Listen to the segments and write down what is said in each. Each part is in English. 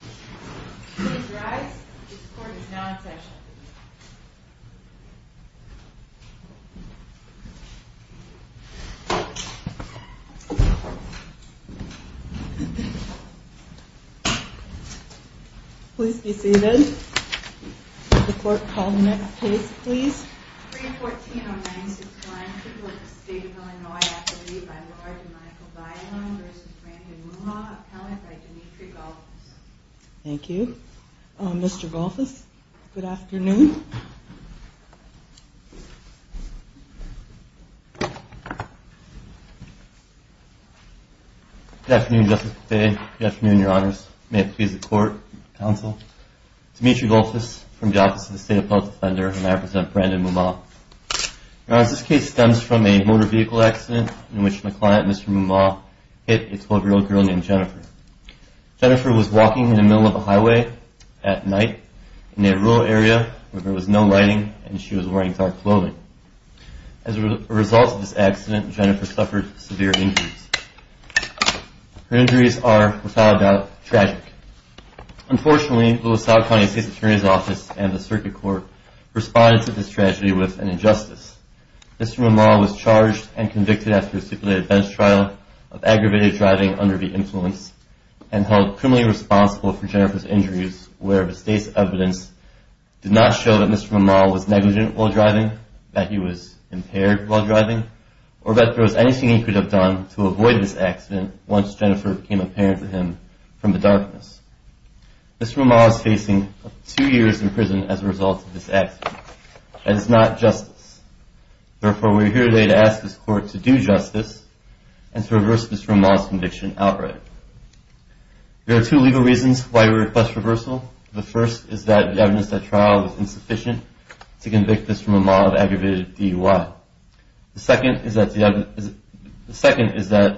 Please rise, this court is now in session. Please be seated. The court call the next case please. Thank you. Mr. Gullfuss, good afternoon. Good afternoon, Justice Pattei. Good afternoon, Your Honors. May it please the court, counsel. Demetri Gullfuss from the Office of the State Appellate Defender and I present Brandon Mumaugh. Your Honors, this case stems from a motor vehicle accident in which my client, Mr. Mumaugh, hit a 12-year-old girl named Jennifer. Jennifer was walking in the middle of a highway at night in a rural area where there was no lighting and she was wearing dark clothing. As a result of this accident, Jennifer suffered severe injuries. Her injuries are, without a doubt, tragic. Unfortunately, Louisville County State's Attorney's Office and the Circuit Court responded to this tragedy with an injustice. Mr. Mumaugh was charged and convicted after a stipulated bench trial of aggravated driving under the influence and held criminally responsible for Jennifer's injuries where the state's evidence did not show that Mr. Mumaugh was negligent while driving, that he was impaired while driving, or that there was anything he could have done to avoid this accident once Jennifer became apparent to him from the darkness. Mr. Mumaugh is facing two years in prison as a result of this accident. That is not justice. Therefore, we are here today to ask this Court to do justice and to reverse Mr. Mumaugh's conviction outright. There are two legal reasons why we request reversal. The first is that the evidence at trial was insufficient to convict Mr. Mumaugh of aggravated DUI. The second is that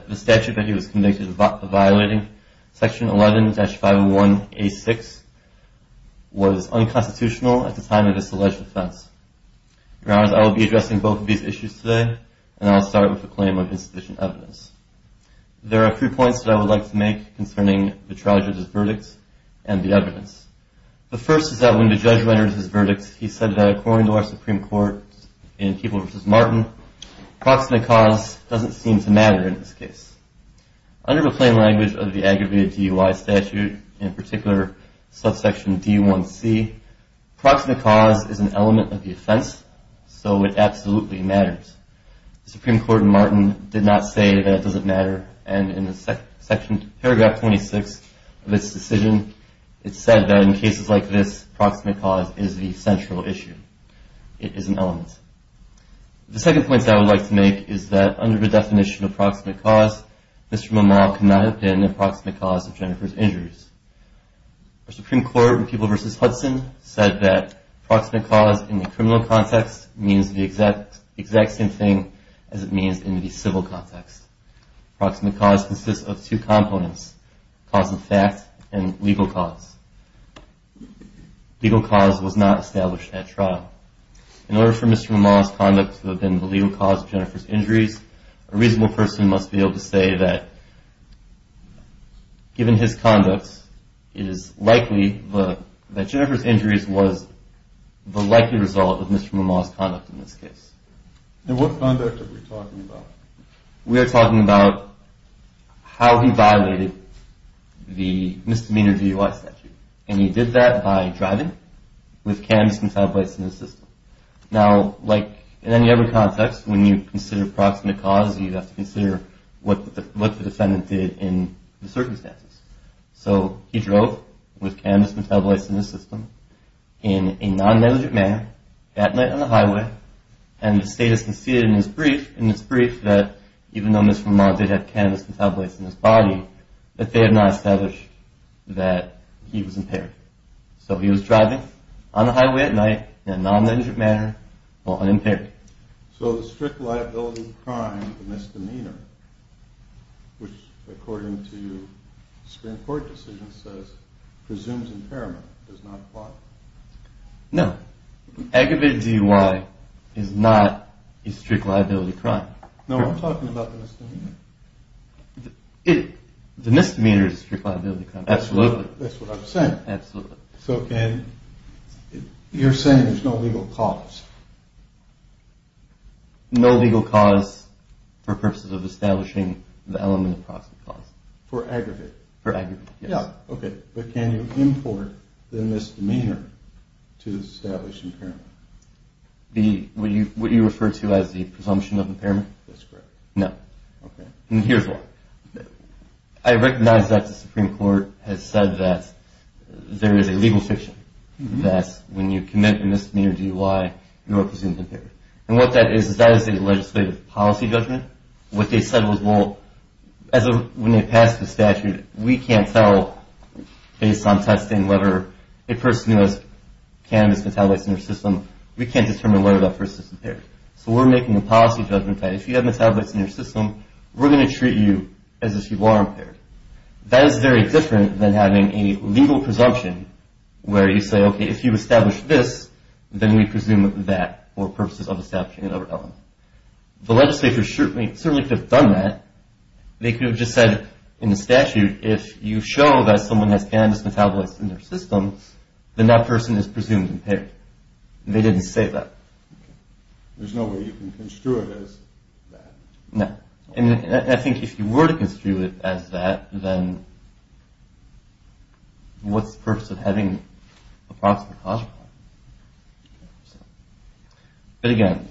the statute that he was convicted of violating, Section 11-501A6, was unconstitutional at the time of this alleged offense. Your Honors, I will be addressing both of these issues today, and I will start with the claim of insufficient evidence. There are three points that I would like to make concerning the charge of this verdict and the evidence. The first is that when the judge renders his verdict, he said that according to our Supreme Court in Keeble v. Martin, proximate cause doesn't seem to matter in this case. Under the plain language of the aggravated DUI statute, in particular subsection D1C, proximate cause is an element of the offense, so it absolutely matters. The Supreme Court in Martin did not say that it doesn't matter, and in paragraph 26 of its decision, it said that in cases like this, proximate cause is the central issue. It is an element. The second point that I would like to make is that under the definition of proximate cause, Mr. Mumaugh cannot have been the proximate cause of Jennifer's injuries. Our Supreme Court in Keeble v. Hudson said that proximate cause in the criminal context means the exact same thing as it means in the civil context. Proximate cause consists of two components, cause of fact and legal cause. Legal cause was not established at trial. In order for Mr. Mumaugh's conduct to have been the legal cause of Jennifer's injuries, a reasonable person must be able to say that given his conduct, it is likely that Jennifer's injuries was the likely result of Mr. Mumaugh's conduct in this case. And what conduct are we talking about? We are talking about how he violated the misdemeanor DUI statute, and he did that by driving with cannabis and tabloids in his system. Now, like in any other context, when you consider proximate cause, you have to consider what the defendant did in the circumstances. So, he drove with cannabis and tabloids in his system in a non-negligent manner at night on the highway, and the state has conceded in its brief that even though Mr. Mumaugh did have cannabis and tabloids in his body, that they have not established that he was impaired. So, he was driving on the highway at night in a non-negligent manner while unimpaired. So, the strict liability crime, the misdemeanor, which according to the Supreme Court decision says presumes impairment, does not apply? No. Aggravated DUI is not a strict liability crime. No, I'm talking about the misdemeanor. The misdemeanor is a strict liability crime. Absolutely. That's what I'm saying. Absolutely. So, you're saying there's no legal cause? No legal cause for purposes of establishing the element of proximate cause. For aggravated? For aggravated, yes. Okay, but can you import the misdemeanor to establish impairment? What you refer to as the presumption of impairment? That's correct. No. Okay. Here's why. I recognize that the Supreme Court has said that there is a legal fiction that when you commit a misdemeanor DUI, you are presumed impaired. And what that is, is that is a legislative policy judgment. What they said was, well, when they passed the statute, we can't tell based on testing whether a person who has cannabis metabolites in their system, so we're making a policy judgment that if you have metabolites in your system, we're going to treat you as if you are impaired. That is very different than having a legal presumption where you say, okay, if you establish this, then we presume that for purposes of establishing another element. The legislature certainly could have done that. They could have just said in the statute, if you show that someone has cannabis metabolites in their system, then that person is presumed impaired. They didn't say that. Okay. There's no way you can construe it as that? No. And I think if you were to construe it as that, then what's the purpose of having a proximate cause? But again,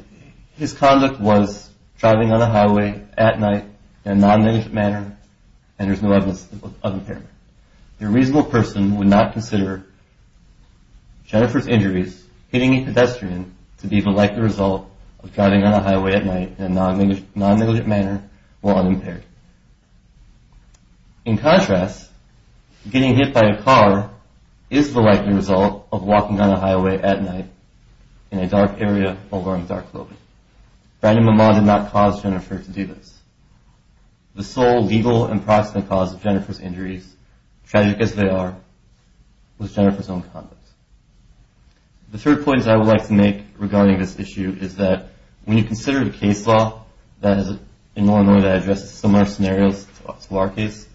his conduct was driving on the highway at night in a non-negative manner, and there's no evidence of impairment. A reasonable person would not consider Jennifer's injuries hitting a pedestrian to be the likely result of driving on a highway at night in a non-negative manner while unimpaired. In contrast, getting hit by a car is the likely result of walking on a highway at night in a dark area over a dark road. Brandon Mamaw did not cause Jennifer to do this. The sole legal and proximate cause of Jennifer's injuries, tragic as they are, was Jennifer's own conduct. The third point I would like to make regarding this issue is that when you consider the case law, that is in Illinois that addresses similar scenarios to our case,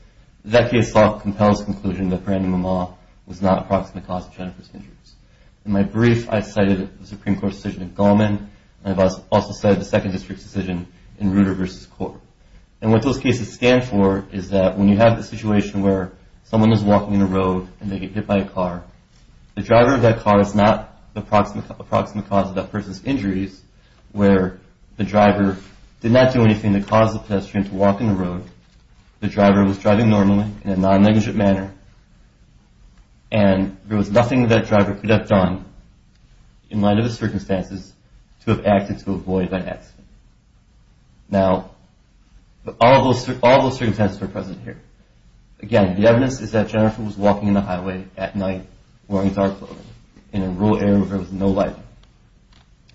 that case law compels the conclusion that Brandon Mamaw was not a proximate cause of Jennifer's injuries. In my brief, I cited the Supreme Court's decision in Goldman, and I've also cited the Second District's decision in Rudder v. Court. And what those cases stand for is that when you have the situation where someone is walking in a road and they get hit by a car, the driver of that car is not the proximate cause of that person's injuries, where the driver did not do anything to cause the pedestrian to walk in the road. The driver was driving normally in a non-legal manner, and there was nothing that driver could have done in light of the circumstances to have acted to avoid an accident. Now, all of those circumstances are present here. Again, the evidence is that Jennifer was walking in the highway at night wearing dark clothing in a rural area where there was no light.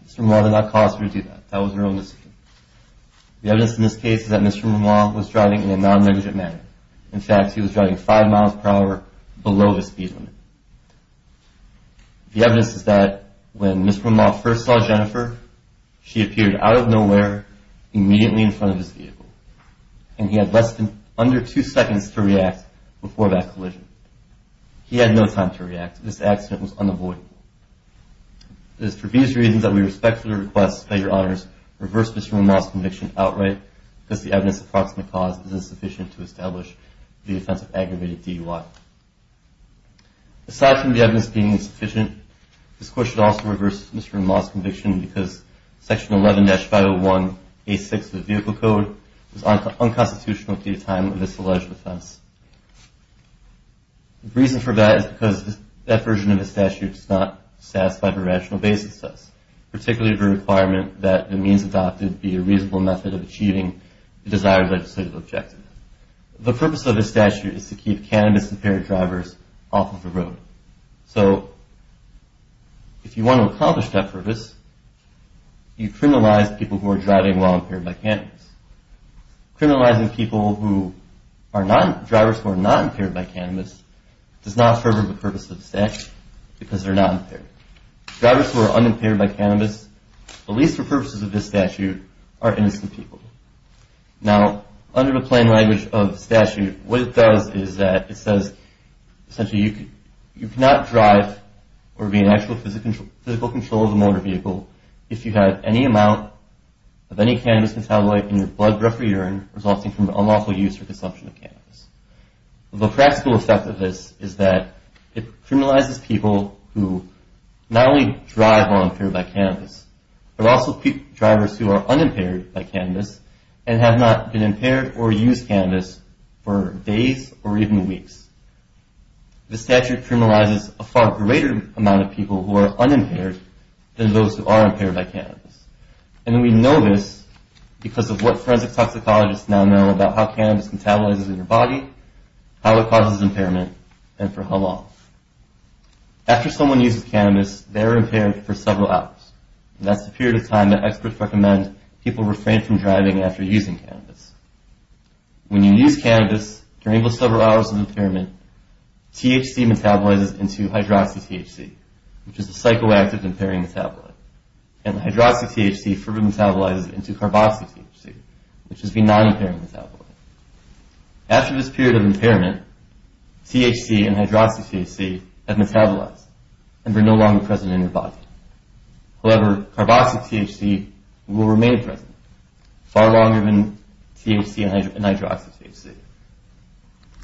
Mr. Mamaw did not cause her to do that. That was her own decision. The evidence in this case is that Mr. Mamaw was driving in a non-legal manner. In fact, he was driving five miles per hour below the speed limit. The evidence is that when Mr. Mamaw first saw Jennifer, she appeared out of nowhere immediately in front of his vehicle, and he had less than under two seconds to react before that collision. He had no time to react. This accident was unavoidable. It is for these reasons that we respectfully request that Your Honors reverse Mr. Mamaw's conviction outright, because the evidence of proximate cause is insufficient to establish the offense of aggravated DUI. Aside from the evidence being insufficient, this Court should also reverse Mr. Mamaw's conviction because Section 11-501A6 of the Vehicle Code is unconstitutional at the time of this alleged offense. The reason for that is because that version of the statute does not satisfy the rational basis of this, particularly the requirement that the means adopted be a reasonable method of achieving the desired legislative objective. The purpose of this statute is to keep cannabis-impaired drivers off of the road. So if you want to accomplish that purpose, you criminalize people who are driving while impaired by cannabis. Criminalizing drivers who are not impaired by cannabis does not serve the purpose of the statute because they're not impaired. Drivers who are unimpaired by cannabis, at least for purposes of this statute, are innocent people. Now, under the plain language of the statute, what it does is that it says, essentially, you cannot drive or be in actual physical control of a motor vehicle if you have any amount of any cannabis metabolite in your blood, breath, or urine resulting from unlawful use or consumption of cannabis. The practical effect of this is that it criminalizes people who not only drive while impaired by cannabis, but also drivers who are unimpaired by cannabis and have not been impaired or used cannabis for days or even weeks. The statute criminalizes a far greater amount of people who are unimpaired than those who are impaired by cannabis. And we know this because of what forensic toxicologists now know about how cannabis metabolizes in your body, how it causes impairment, and for how long. After someone uses cannabis, they're impaired for several hours. That's the period of time that experts recommend people refrain from driving after using cannabis. When you use cannabis, during those several hours of impairment, THC metabolizes into hydroxy-THC, which is a psychoactive impairing metabolite. And hydroxy-THC further metabolizes into carboxy-THC, which is the non-impairing metabolite. After this period of impairment, THC and hydroxy-THC have metabolized and are no longer present in your body. However, carboxy-THC will remain present far longer than THC and hydroxy-THC.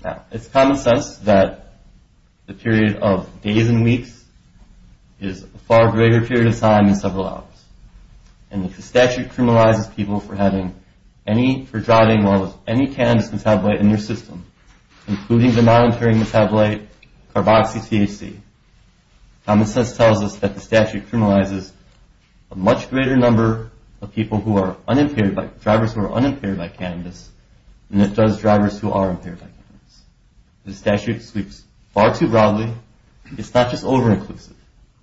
Now, it's common sense that the period of days and weeks is a far greater period of time than several hours. And if the statute criminalizes people for driving while there's any cannabis metabolite in their system, including the non-impairing metabolite carboxy-THC, common sense tells us that the statute criminalizes a much greater number of people who are unimpaired, drivers who are unimpaired by cannabis than it does drivers who are impaired by cannabis. The statute speaks far too broadly. It's not just over-inclusive.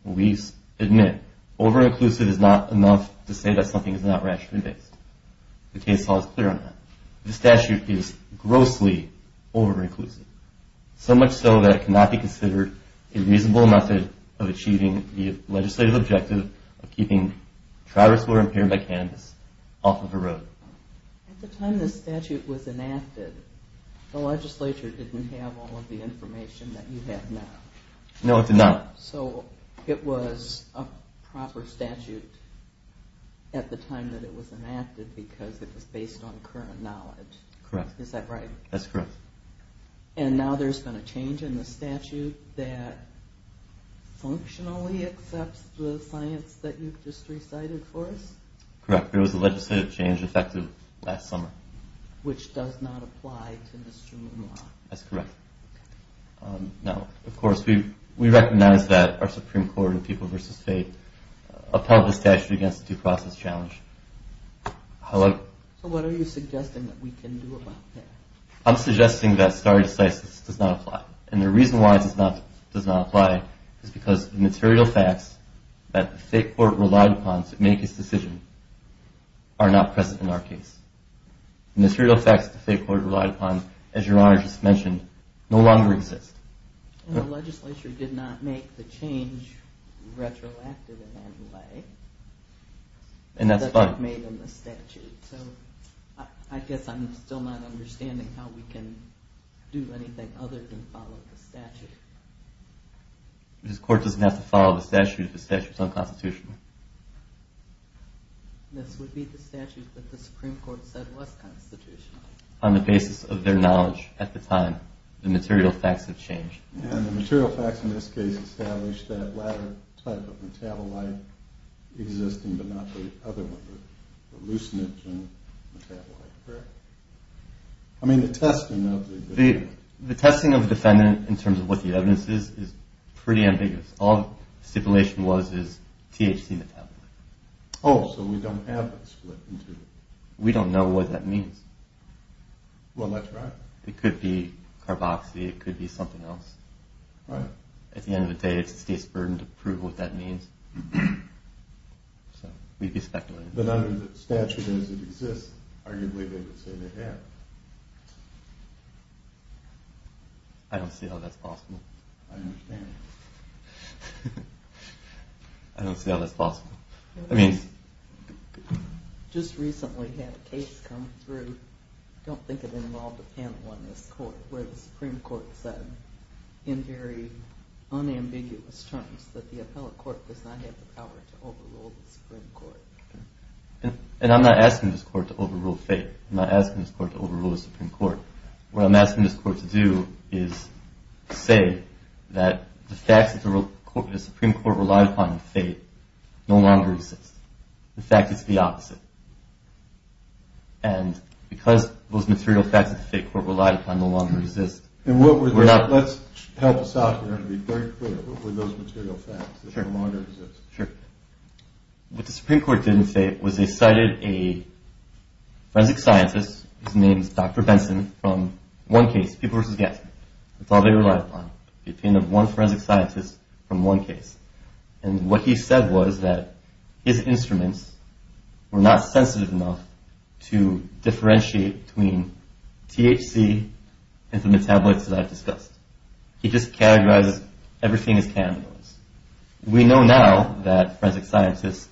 We admit over-inclusive is not enough to say that something is not rationally based. The case law is clear on that. The statute is grossly over-inclusive, so much so that it cannot be considered a reasonable method of achieving the legislative objective of keeping drivers who are impaired by cannabis off of the road. At the time the statute was enacted, the legislature didn't have all of the information that you have now. No, it did not. So it was a proper statute at the time that it was enacted because it was based on current knowledge. Correct. Is that right? That's correct. And now there's been a change in the statute that functionally accepts the science that you've just recited for us? Correct. There was a legislative change effective last summer. Which does not apply to Mr. Moon Law. That's correct. Now, of course, we recognize that our Supreme Court in People v. Faith upheld the statute against the due process challenge. So what are you suggesting that we can do about that? I'm suggesting that stare decisis does not apply. And the reason why it does not apply is because the material facts that the Faith Court relied upon to make its decision are not present in our case. And the material facts that the Faith Court relied upon, as Your Honor just mentioned, no longer exist. And the legislature did not make the change retroactive in any way. And that's fine. It was made in the statute. So I guess I'm still not understanding how we can do anything other than follow the statute. The court doesn't have to follow the statute if the statute is unconstitutional. This would be the statute that the Supreme Court said was constitutional. On the basis of their knowledge at the time, the material facts have changed. And the material facts in this case establish that latter type of metabolite existing, but not the other one, the hallucinogen metabolite. Correct. I mean, the testing of the defendant. The testing of the defendant in terms of what the evidence is is pretty ambiguous. All the stipulation was is THC metabolite. Oh, so we don't have that split in two. We don't know what that means. Well, that's right. It could be carboxy. It could be something else. Right. At the end of the day, it's the state's burden to prove what that means. So we'd be speculating. But under the statute as it exists, arguably they would say they have. I don't see how that's possible. I don't understand. I don't see how that's possible. I mean. Just recently had a case come through. I don't think it involved a panel in this court where the Supreme Court said in very unambiguous terms that the appellate court does not have the power to overrule the Supreme Court. And I'm not asking this court to overrule fate. I'm not asking this court to overrule the Supreme Court. What I'm asking this court to do is say that the facts that the Supreme Court relied upon in fate no longer exist. The fact is the opposite. And because those material facts that the fate court relied upon no longer exist. Let's help us out here and be very clear. What were those material facts that no longer exist? Sure. What the Supreme Court didn't say was they cited a forensic scientist whose name is Dr. Benson from one case, people versus gas. That's all they relied upon. The opinion of one forensic scientist from one case. And what he said was that his instruments were not sensitive enough to differentiate between THC and the metabolites that I've discussed. He just categorized everything as cannabinoids. We know now that forensic scientists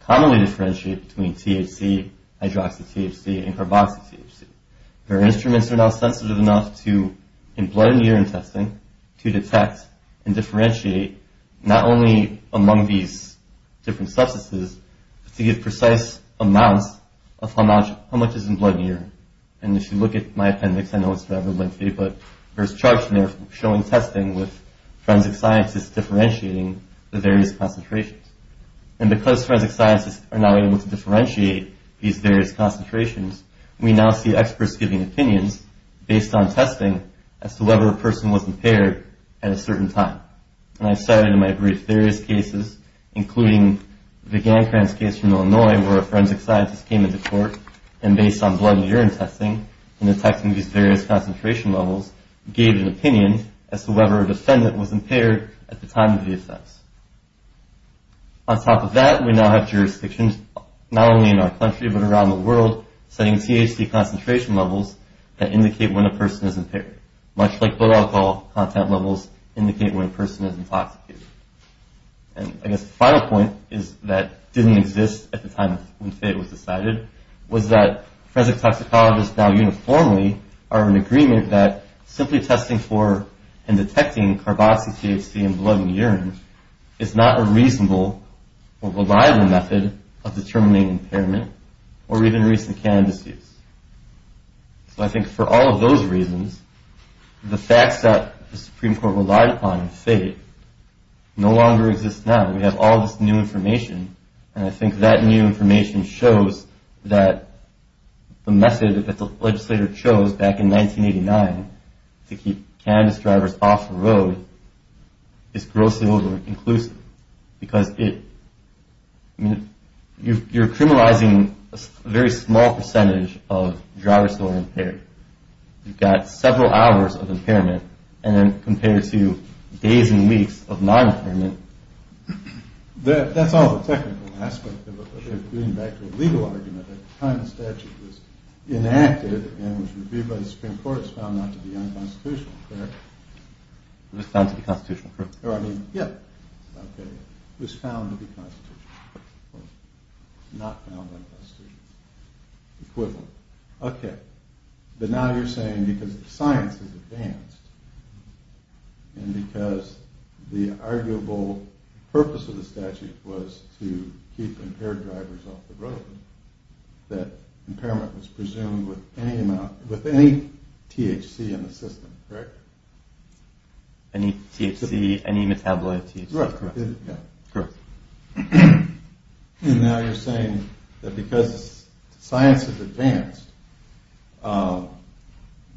commonly differentiate between THC, hydroxy-THC, and carboxy-THC. Their instruments are now sensitive enough to, in blood and urine testing, to detect and differentiate not only among these different substances, but to give precise amounts of how much is in blood and urine. And if you look at my appendix, I know it's rather lengthy, but there's charts in there showing testing with forensic scientists differentiating the various concentrations. And because forensic scientists are now able to differentiate these various concentrations, we now see experts giving opinions based on testing as to whether a person was impaired at a certain time. And I've cited in my brief various cases, including the Gancranz case from Illinois where a forensic scientist came into court and based on blood and urine testing and detecting these various concentration levels, gave an opinion as to whether a defendant was impaired at the time of the offense. On top of that, we now have jurisdictions not only in our country but around the world setting THC concentration levels that indicate when a person is impaired, much like blood alcohol content levels indicate when a person is intoxicated. And I guess the final point is that didn't exist at the time when FAIT was decided, was that forensic toxicologists now uniformly are in agreement that simply testing for and detecting carboxy-THC in blood and urine is not a reasonable or reliable method of determining impairment or even recent cannabis use. So I think for all of those reasons, the facts that the Supreme Court relied upon in FAIT no longer exist now. We have all this new information and I think that new information shows that the method that the legislator chose back in 1989 to keep cannabis drivers off the road is grossly over-inclusive. Because you're criminalizing a very small percentage of drivers who are impaired. You've got several hours of impairment compared to days and weeks of non-impairment. That's all the technical aspect of it. But getting back to the legal argument, at the time the statute was enacted and was reviewed by the Supreme Court, it was found not to be unconstitutional, correct? It was found to be constitutional, correct. It was found to be constitutional, not found unconstitutional. Equivalent. Okay. But now you're saying because science has advanced and because the arguable purpose of the statute was to keep impaired drivers off the road, that impairment was presumed with any THC in the system, correct? Any THC, any metabolite THC, correct? Correct. Correct. And now you're saying that because science has advanced,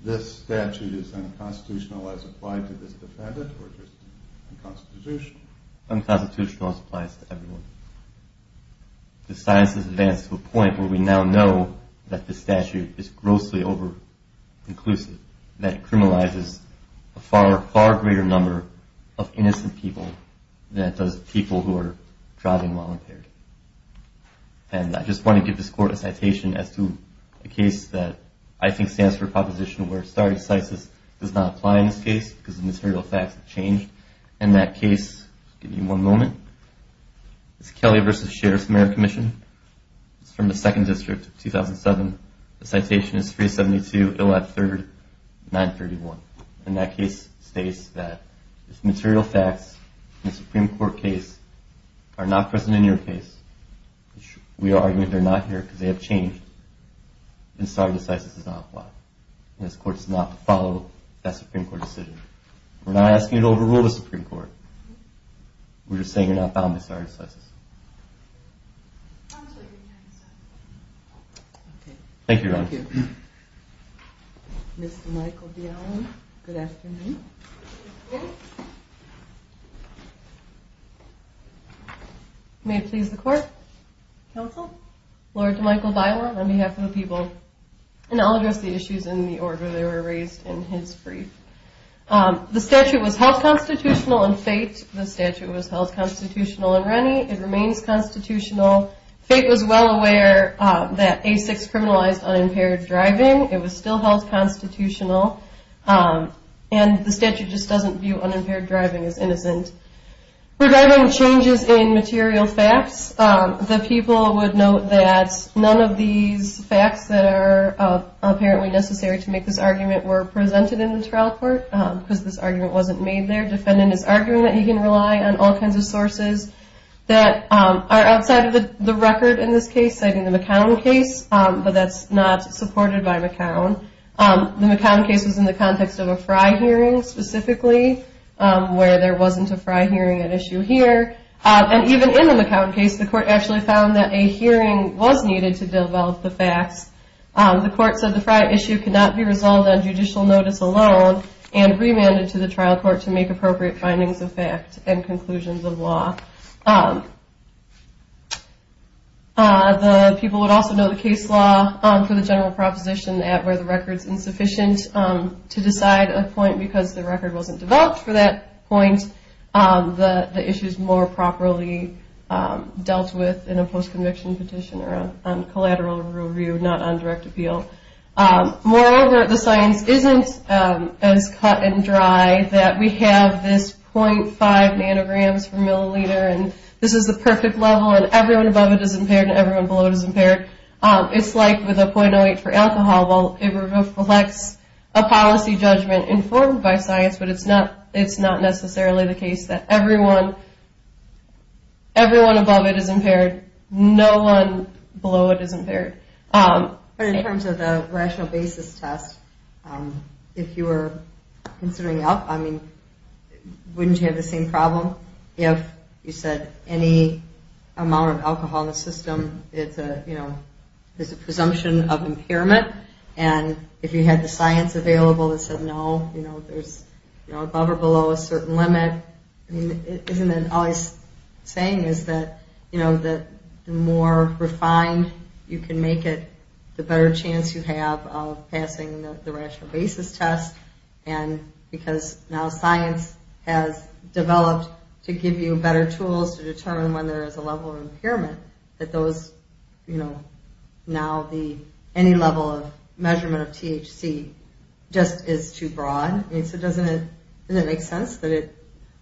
this statute is unconstitutional as applied to this defendant or just unconstitutional? Unconstitutional as applied to everyone. Because science has advanced to a point where we now know that this statute is grossly over-inclusive, that it criminalizes a far, far greater number of innocent people than it does people who are driving while impaired. And I just want to give this Court a citation as to a case that I think stands for a proposition where star excises does not apply in this case because the material facts have changed. In that case, I'll give you one moment. It's Kelly v. Sheriff's Merit Commission. It's from the 2nd District, 2007. The citation is 372, 113, 931. And that case states that the material facts in the Supreme Court case are not present in your case. We are arguing they're not here because they have changed. And star excises does not apply. And this Court is not to follow that Supreme Court decision. We're not asking you to overrule the Supreme Court. We're just saying you're not bound by star excises. Thank you, Your Honor. May it please the Court. Counsel. Lord DeMichael Byler, on behalf of the people. And I'll address the issues in the order they were raised in his brief. The statute was held constitutional in Fate. The statute was held constitutional in Rennie. It remains constitutional. Fate was well aware that A6 criminalized unimpaired driving. It was still held constitutional. And the statute just doesn't view unimpaired driving as innocent. Regarding changes in material facts, the people would note that none of these facts that are apparently necessary to make this argument were presented in the trial court because this argument wasn't made there. Defendant is arguing that he can rely on all kinds of sources that are outside of the record in this case, citing the McCown case, but that's not supported by McCown. The McCown case was in the context of a Fry hearing, specifically, where there wasn't a Fry hearing at issue here. And even in the McCown case, the Court actually found that a hearing was needed to develop the facts. The Court said the Fry issue could not be resolved on judicial notice alone and remanded to the trial court to make appropriate findings of fact and conclusions of law. The people would also note the case law for the general proposition that where the record is insufficient to decide a point because the record wasn't developed for that point, the issue is more properly dealt with in a post-conviction petition or a collateral review, not on direct appeal. Moreover, the science isn't as cut and dry that we have this 0.5 nanograms per milliliter and this is the perfect level and everyone above it is impaired and everyone below it is impaired. It's like with a 0.08 for alcohol, it reflects a policy judgment informed by science, but it's not necessarily the case that everyone above it is impaired, no one below it is impaired. But in terms of the rational basis test, if you were considering it, wouldn't you have the same problem if you said any amount of alcohol in the system is a presumption of impairment and if you had the science available that said no, there's above or below a certain limit, isn't that always saying is that the more refined you can make it, the better chance you have of passing the rational basis test and because now science has developed to give you better tools to determine when there is a level of impairment, that now any level of measurement of THC just is too broad. So doesn't it make sense?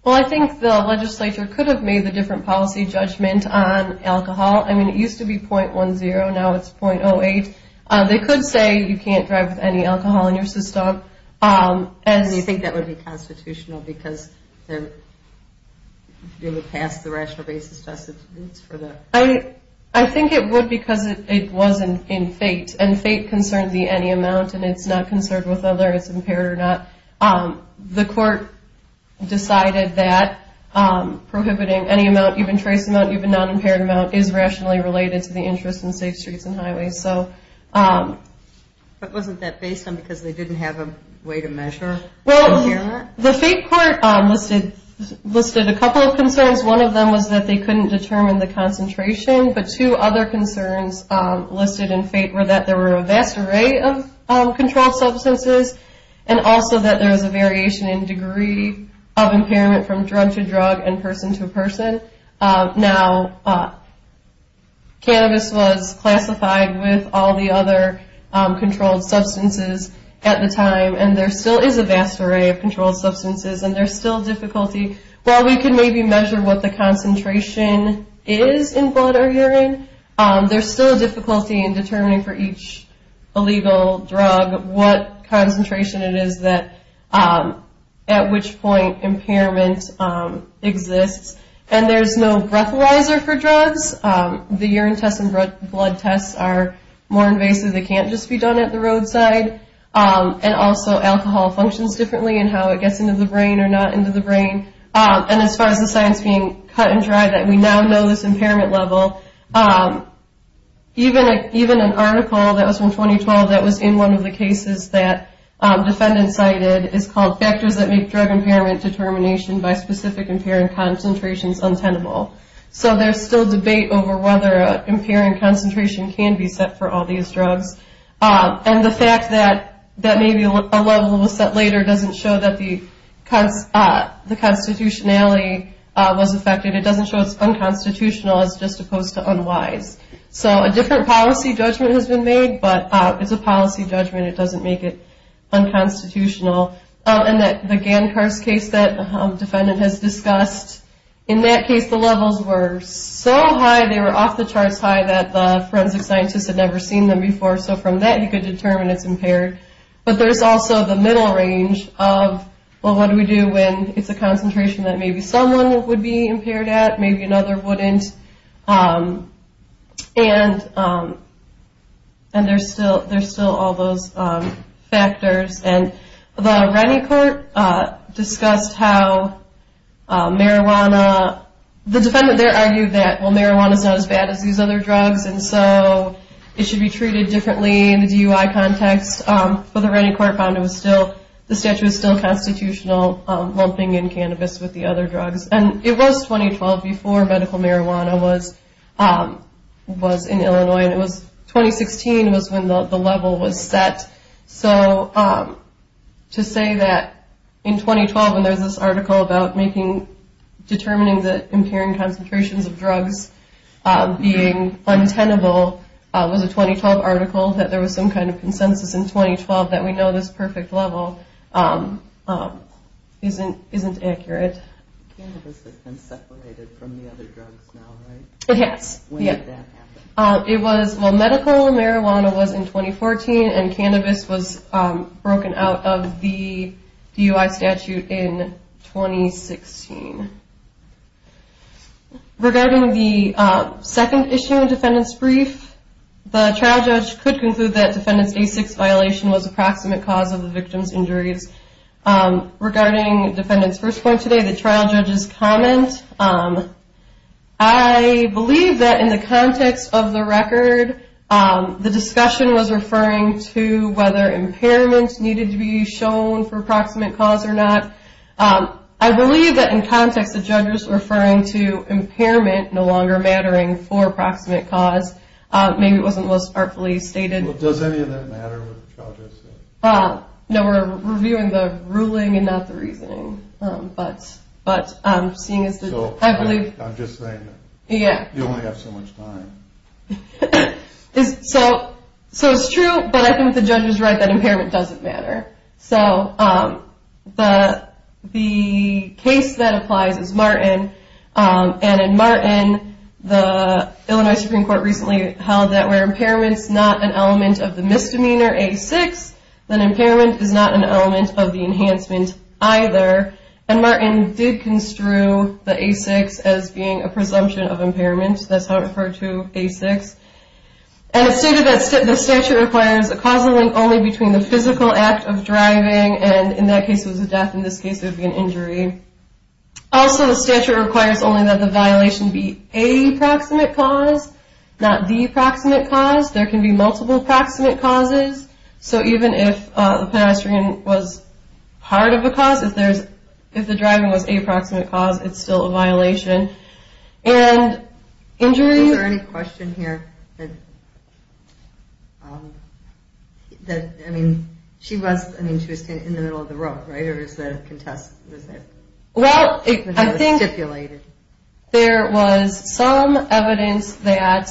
Well, I think the legislature could have made the different policy judgment on alcohol. I mean, it used to be 0.10, now it's 0.08. They could say you can't drive with any alcohol in your system. Do you think that would be constitutional because you would pass the rational basis test? I think it would because it was in FATE and FATE concerns the any amount and it's not concerned with whether it's impaired or not. The court decided that prohibiting any amount, even trace amount, even non-impaired amount, is rationally related to the interest in safe streets and highways. But wasn't that based on because they didn't have a way to measure impairment? Well, the FATE court listed a couple of concerns. One of them was that they couldn't determine the concentration, but two other concerns listed in FATE were that there were a vast array of controlled substances and also that there was a variation in degree of impairment from drug to drug and person to person. Now, cannabis was classified with all the other controlled substances at the time, and there still is a vast array of controlled substances, and there's still difficulty. While we can maybe measure what the concentration is in blood or urine, there's still a difficulty in determining for each illegal drug what concentration it is that at which point impairment exists. And there's no breathalyzer for drugs. The urine tests and blood tests are more invasive. They can't just be done at the roadside. And also alcohol functions differently in how it gets into the brain or not into the brain. And as far as the science being cut and dried, that we now know this impairment level, even an article that was from 2012 that was in one of the cases that defendants cited is called Factors that Make Drug Impairment Determination by Specific Impairing Concentrations Untenable. So there's still debate over whether an impairing concentration can be set for all these drugs. And the fact that maybe a level was set later doesn't show that the constitutionality was affected. It doesn't show it's unconstitutional. It's just opposed to unwise. So a different policy judgment has been made, but it's a policy judgment. It doesn't make it unconstitutional. And the Gancars case that the defendant has discussed, in that case the levels were so high, they were off the charts high that the forensic scientists had never seen them before, so from that you could determine it's impaired. But there's also the middle range of, well, what do we do when it's a concentration that maybe someone would be impaired at, maybe another wouldn't, and there's still all those factors. And the Rennie Court discussed how marijuana, the defendant there argued that, well, marijuana's not as bad as these other drugs, and so it should be treated differently in the DUI context. But the Rennie Court found the statute was still constitutional, lumping in cannabis with the other drugs. And it was 2012 before medical marijuana was in Illinois, and it was 2016 was when the level was set. So to say that in 2012 when there's this article about determining the impairing concentrations of drugs being untenable was a 2012 article, that there was some kind of consensus in 2012 that we know this perfect level isn't accurate. Cannabis has been separated from the other drugs now, right? It has. When did that happen? It was, well, medical marijuana was in 2014, and cannabis was broken out of the DUI statute in 2016. Regarding the second issue, defendant's brief, the trial judge could conclude that defendant's A6 violation was approximate cause of the victim's injuries. Regarding defendant's first point today, the trial judge's comment, I believe that in the context of the record, the discussion was referring to whether impairment needed to be shown for approximate cause or not. I believe that in context, the judge was referring to impairment no longer mattering for approximate cause. Maybe it wasn't most artfully stated. Does any of that matter? No, we're reviewing the ruling and not the reasoning. I'm just saying, you only have so much time. It's true, but I think the judge was right that impairment doesn't matter. The case that applies is Martin, and in Martin, the Illinois Supreme Court recently held that where impairment's not an element of the misdemeanor A6, then impairment is not an element of the enhancement either. And Martin did construe the A6 as being a presumption of impairment. That's how it referred to A6. And it stated that the statute requires a causal link only between the physical act of driving, and in that case, it was a death. In this case, it would be an injury. Also, the statute requires only that the violation be a proximate cause, not the proximate cause. There can be multiple proximate causes. So even if the pedestrian was part of the cause, if the driving was a proximate cause, it's still a violation. And injury... Was there any question here that, I mean, she was in the middle of the road, right? Or is that a contest? Well, I think there was some evidence that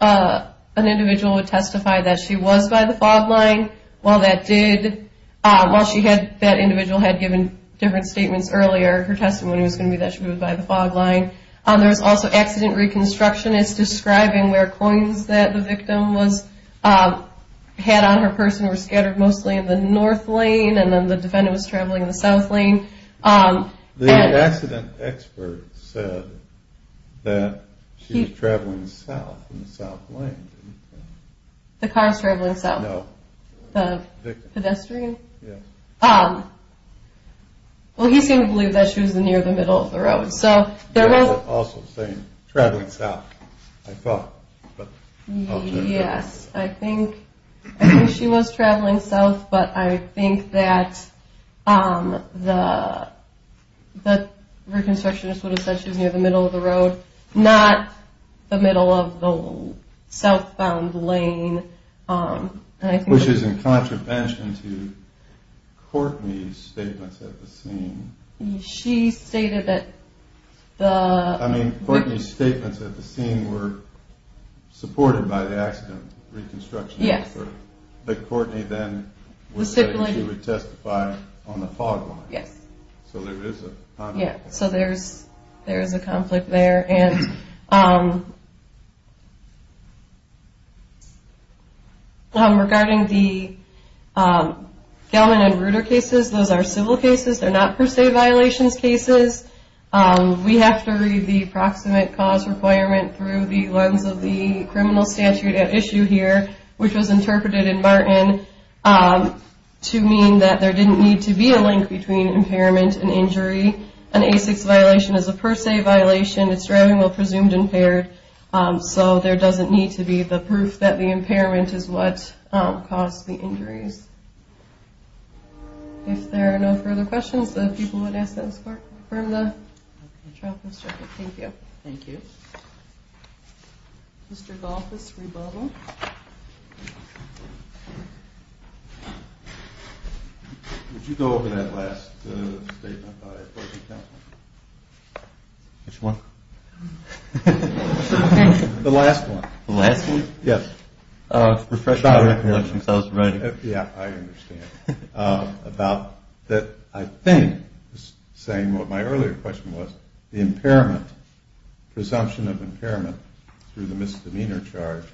an individual would testify that she was by the fog line. While that individual had given different statements earlier, her testimony was going to be that she was by the fog line. There was also accident reconstructionists describing where coins that the victim had on her person were scattered mostly in the north lane, and then the defendant was traveling in the south lane. The accident expert said that she was traveling south in the south lane, didn't he? The car's traveling south? No. The pedestrian? Yes. Well, he seemed to believe that she was near the middle of the road, so there was... He was also saying traveling south, I thought. Yes, I think she was traveling south, but I think that the reconstructionist would have said she was near the middle of the road, not the middle of the southbound lane. Which is in contravention to Courtney's statements at the scene. She stated that the... I mean, Courtney's statements at the scene were supported by the accident reconstruction expert. Yes. But Courtney then was saying she would testify on the fog line. Yes. So there is a conflict. Yes, so there is a conflict there. Regarding the Gellman and Ruder cases, those are civil cases. They're not per se violations cases. We have to read the proximate cause requirement through the lens of the criminal statute at issue here, which was interpreted in Martin to mean that there didn't need to be a link between impairment and injury. An ASICS violation is a per se violation. It's driving while presumed impaired. So there doesn't need to be the proof that the impairment is what caused the injuries. If there are no further questions, the people would ask that this court confirm the trial post record. Thank you. Thank you. Mr. Golfis, rebubble. Would you go over that last statement by the appropriate counsel? Which one? The last one. The last one? Yes. Refresh my recollection because I was writing. Yes, I understand. About that, I think, saying what my earlier question was, the impairment, presumption of impairment through the misdemeanor charge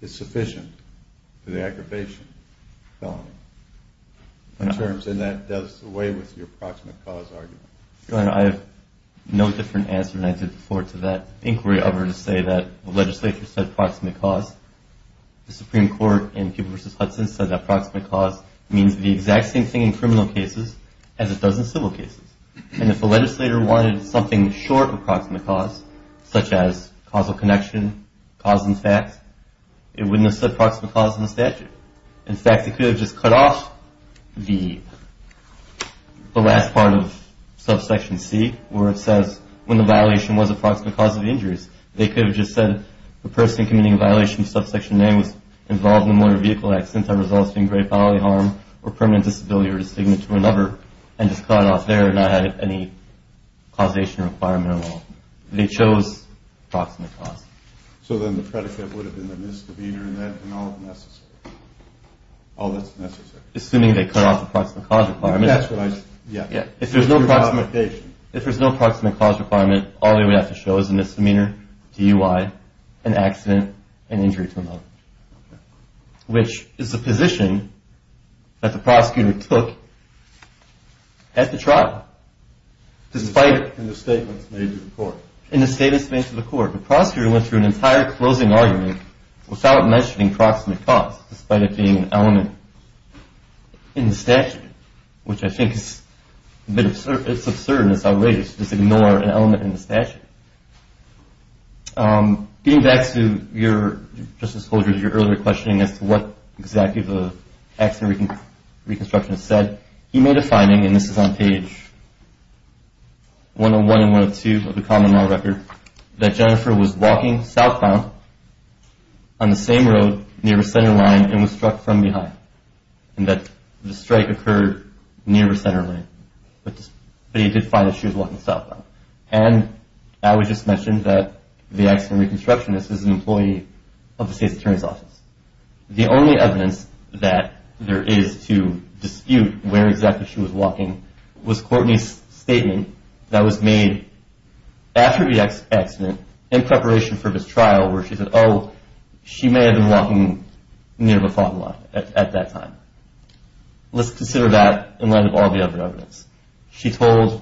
is sufficient for the aggravation felony. And that does away with your proximate cause argument. Your Honor, I have no different answer than I did before to that inquiry over to say that the legislature said proximate cause. The Supreme Court in Peeble v. Hudson said that proximate cause means the exact same thing in criminal cases as it does in civil cases. And if the legislator wanted something short of proximate cause, such as causal connection, cause and fact, it wouldn't have said proximate cause in the statute. In fact, it could have just cut off the last part of Subsection C, where it says when the violation was a proximate cause of injuries. They could have just said the person committing a violation of Subsection A was involved in a motor vehicle accident that results in grave bodily harm or permanent disability or disfigurement to another and just cut it off there and not have any causation requirement at all. They chose proximate cause. So then the predicate would have been the misdemeanor and all that's necessary. Assuming they cut off the proximate cause requirement. That's what I said. If there's no proximate cause requirement, all they would have to show is a misdemeanor, DUI, an accident, and injury to another, which is the position that the prosecutor took at the trial. In the statements made to the court. The prosecutor went through an entire closing argument without mentioning proximate cause, despite it being an element in the statute, which I think is a bit absurd. It's absurd and it's outrageous to just ignore an element in the statute. Getting back to your earlier questioning as to what exactly the accident reconstruction said, he made a finding, and this is on page 101 and 102 of the common law record, that Jennifer was walking southbound on the same road near her center line and was struck from behind. And that the strike occurred near her center line. But he did find that she was walking southbound. And I would just mention that the accident reconstructionist is an employee of the state's attorney's office. The only evidence that there is to dispute where exactly she was walking was Courtney's statement that was made after the accident in preparation for this trial, where she said, oh, she may have been walking near the fog lot at that time. Let's consider that in light of all the other evidence. She told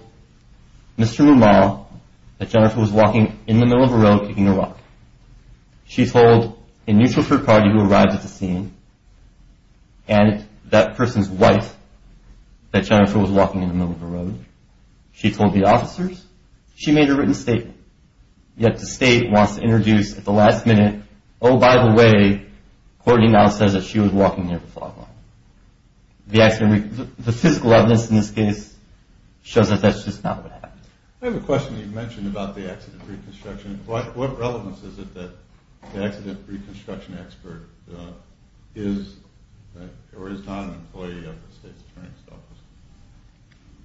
Mr. Maumau that Jennifer was walking in the middle of a road, kicking a rock. She told a neutral third party who arrived at the scene and that person's wife that Jennifer was walking in the middle of the road. She told the officers. She made a written statement, yet the state wants to introduce at the last minute, oh, by the way, Courtney now says that she was walking near the fog lot. The physical evidence in this case shows that that's just not what happened. I have a question that you mentioned about the accident reconstruction. What relevance is it that the accident reconstruction expert is or is not an employee of the state's attorney's office?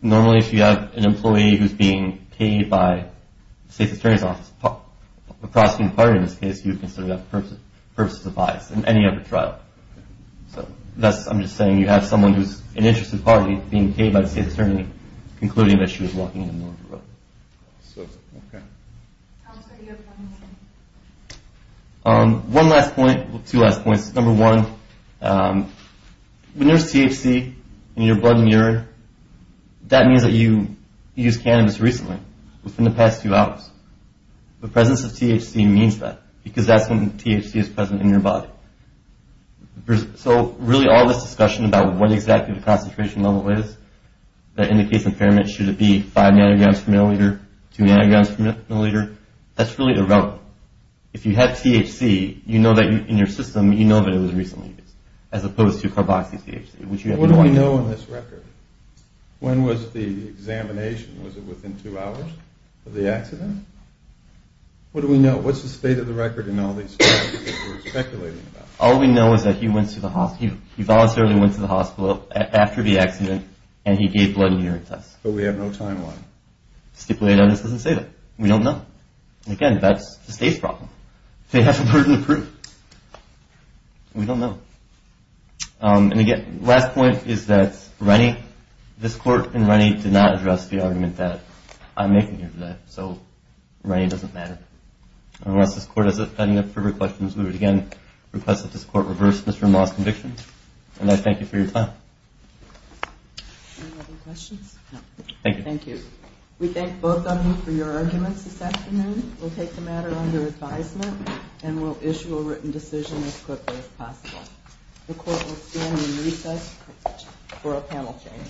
Normally, if you have an employee who's being paid by the state's attorney's office, a prosecuting party in this case, you would consider that purposeless advice in any other trial. So I'm just saying you have someone who's an interested party being paid by the state's attorney concluding that she was walking in the middle of the road. So, okay. How would you explain this? One last point, well, two last points. Number one, when there's THC in your blood and urine, that means that you used cannabis recently, within the past two hours. The presence of THC means that because that's when THC is present in your body. So really all this discussion about what exactly the concentration level is that indicates impairment, should it be five nanograms per milliliter, two nanograms per milliliter, that's really irrelevant. If you have THC, you know that in your system, you know that it was recently used, as opposed to carboxy-THC. What do we know in this record? When was the examination? Was it within two hours of the accident? What do we know? What's the state of the record in all these cases that we're speculating about? All we know is that he voluntarily went to the hospital after the accident, and he gave blood and urine tests. But we have no timeline. The stipulated on this doesn't say that. We don't know. And, again, that's the state's problem. They have some burden of proof. We don't know. And, again, the last point is that this court and Rennie did not address the argument that I'm making here today. So Rennie doesn't matter. Unless this court has any further questions, we would, again, request that this court reverse Mr. Ma's conviction. And I thank you for your time. Any other questions? No. Thank you. Thank you. We thank both of you for your arguments this afternoon. We'll take the matter under advisement, and we'll issue a written decision as quickly as possible. The court will stand in recess for a panel change. Thank you.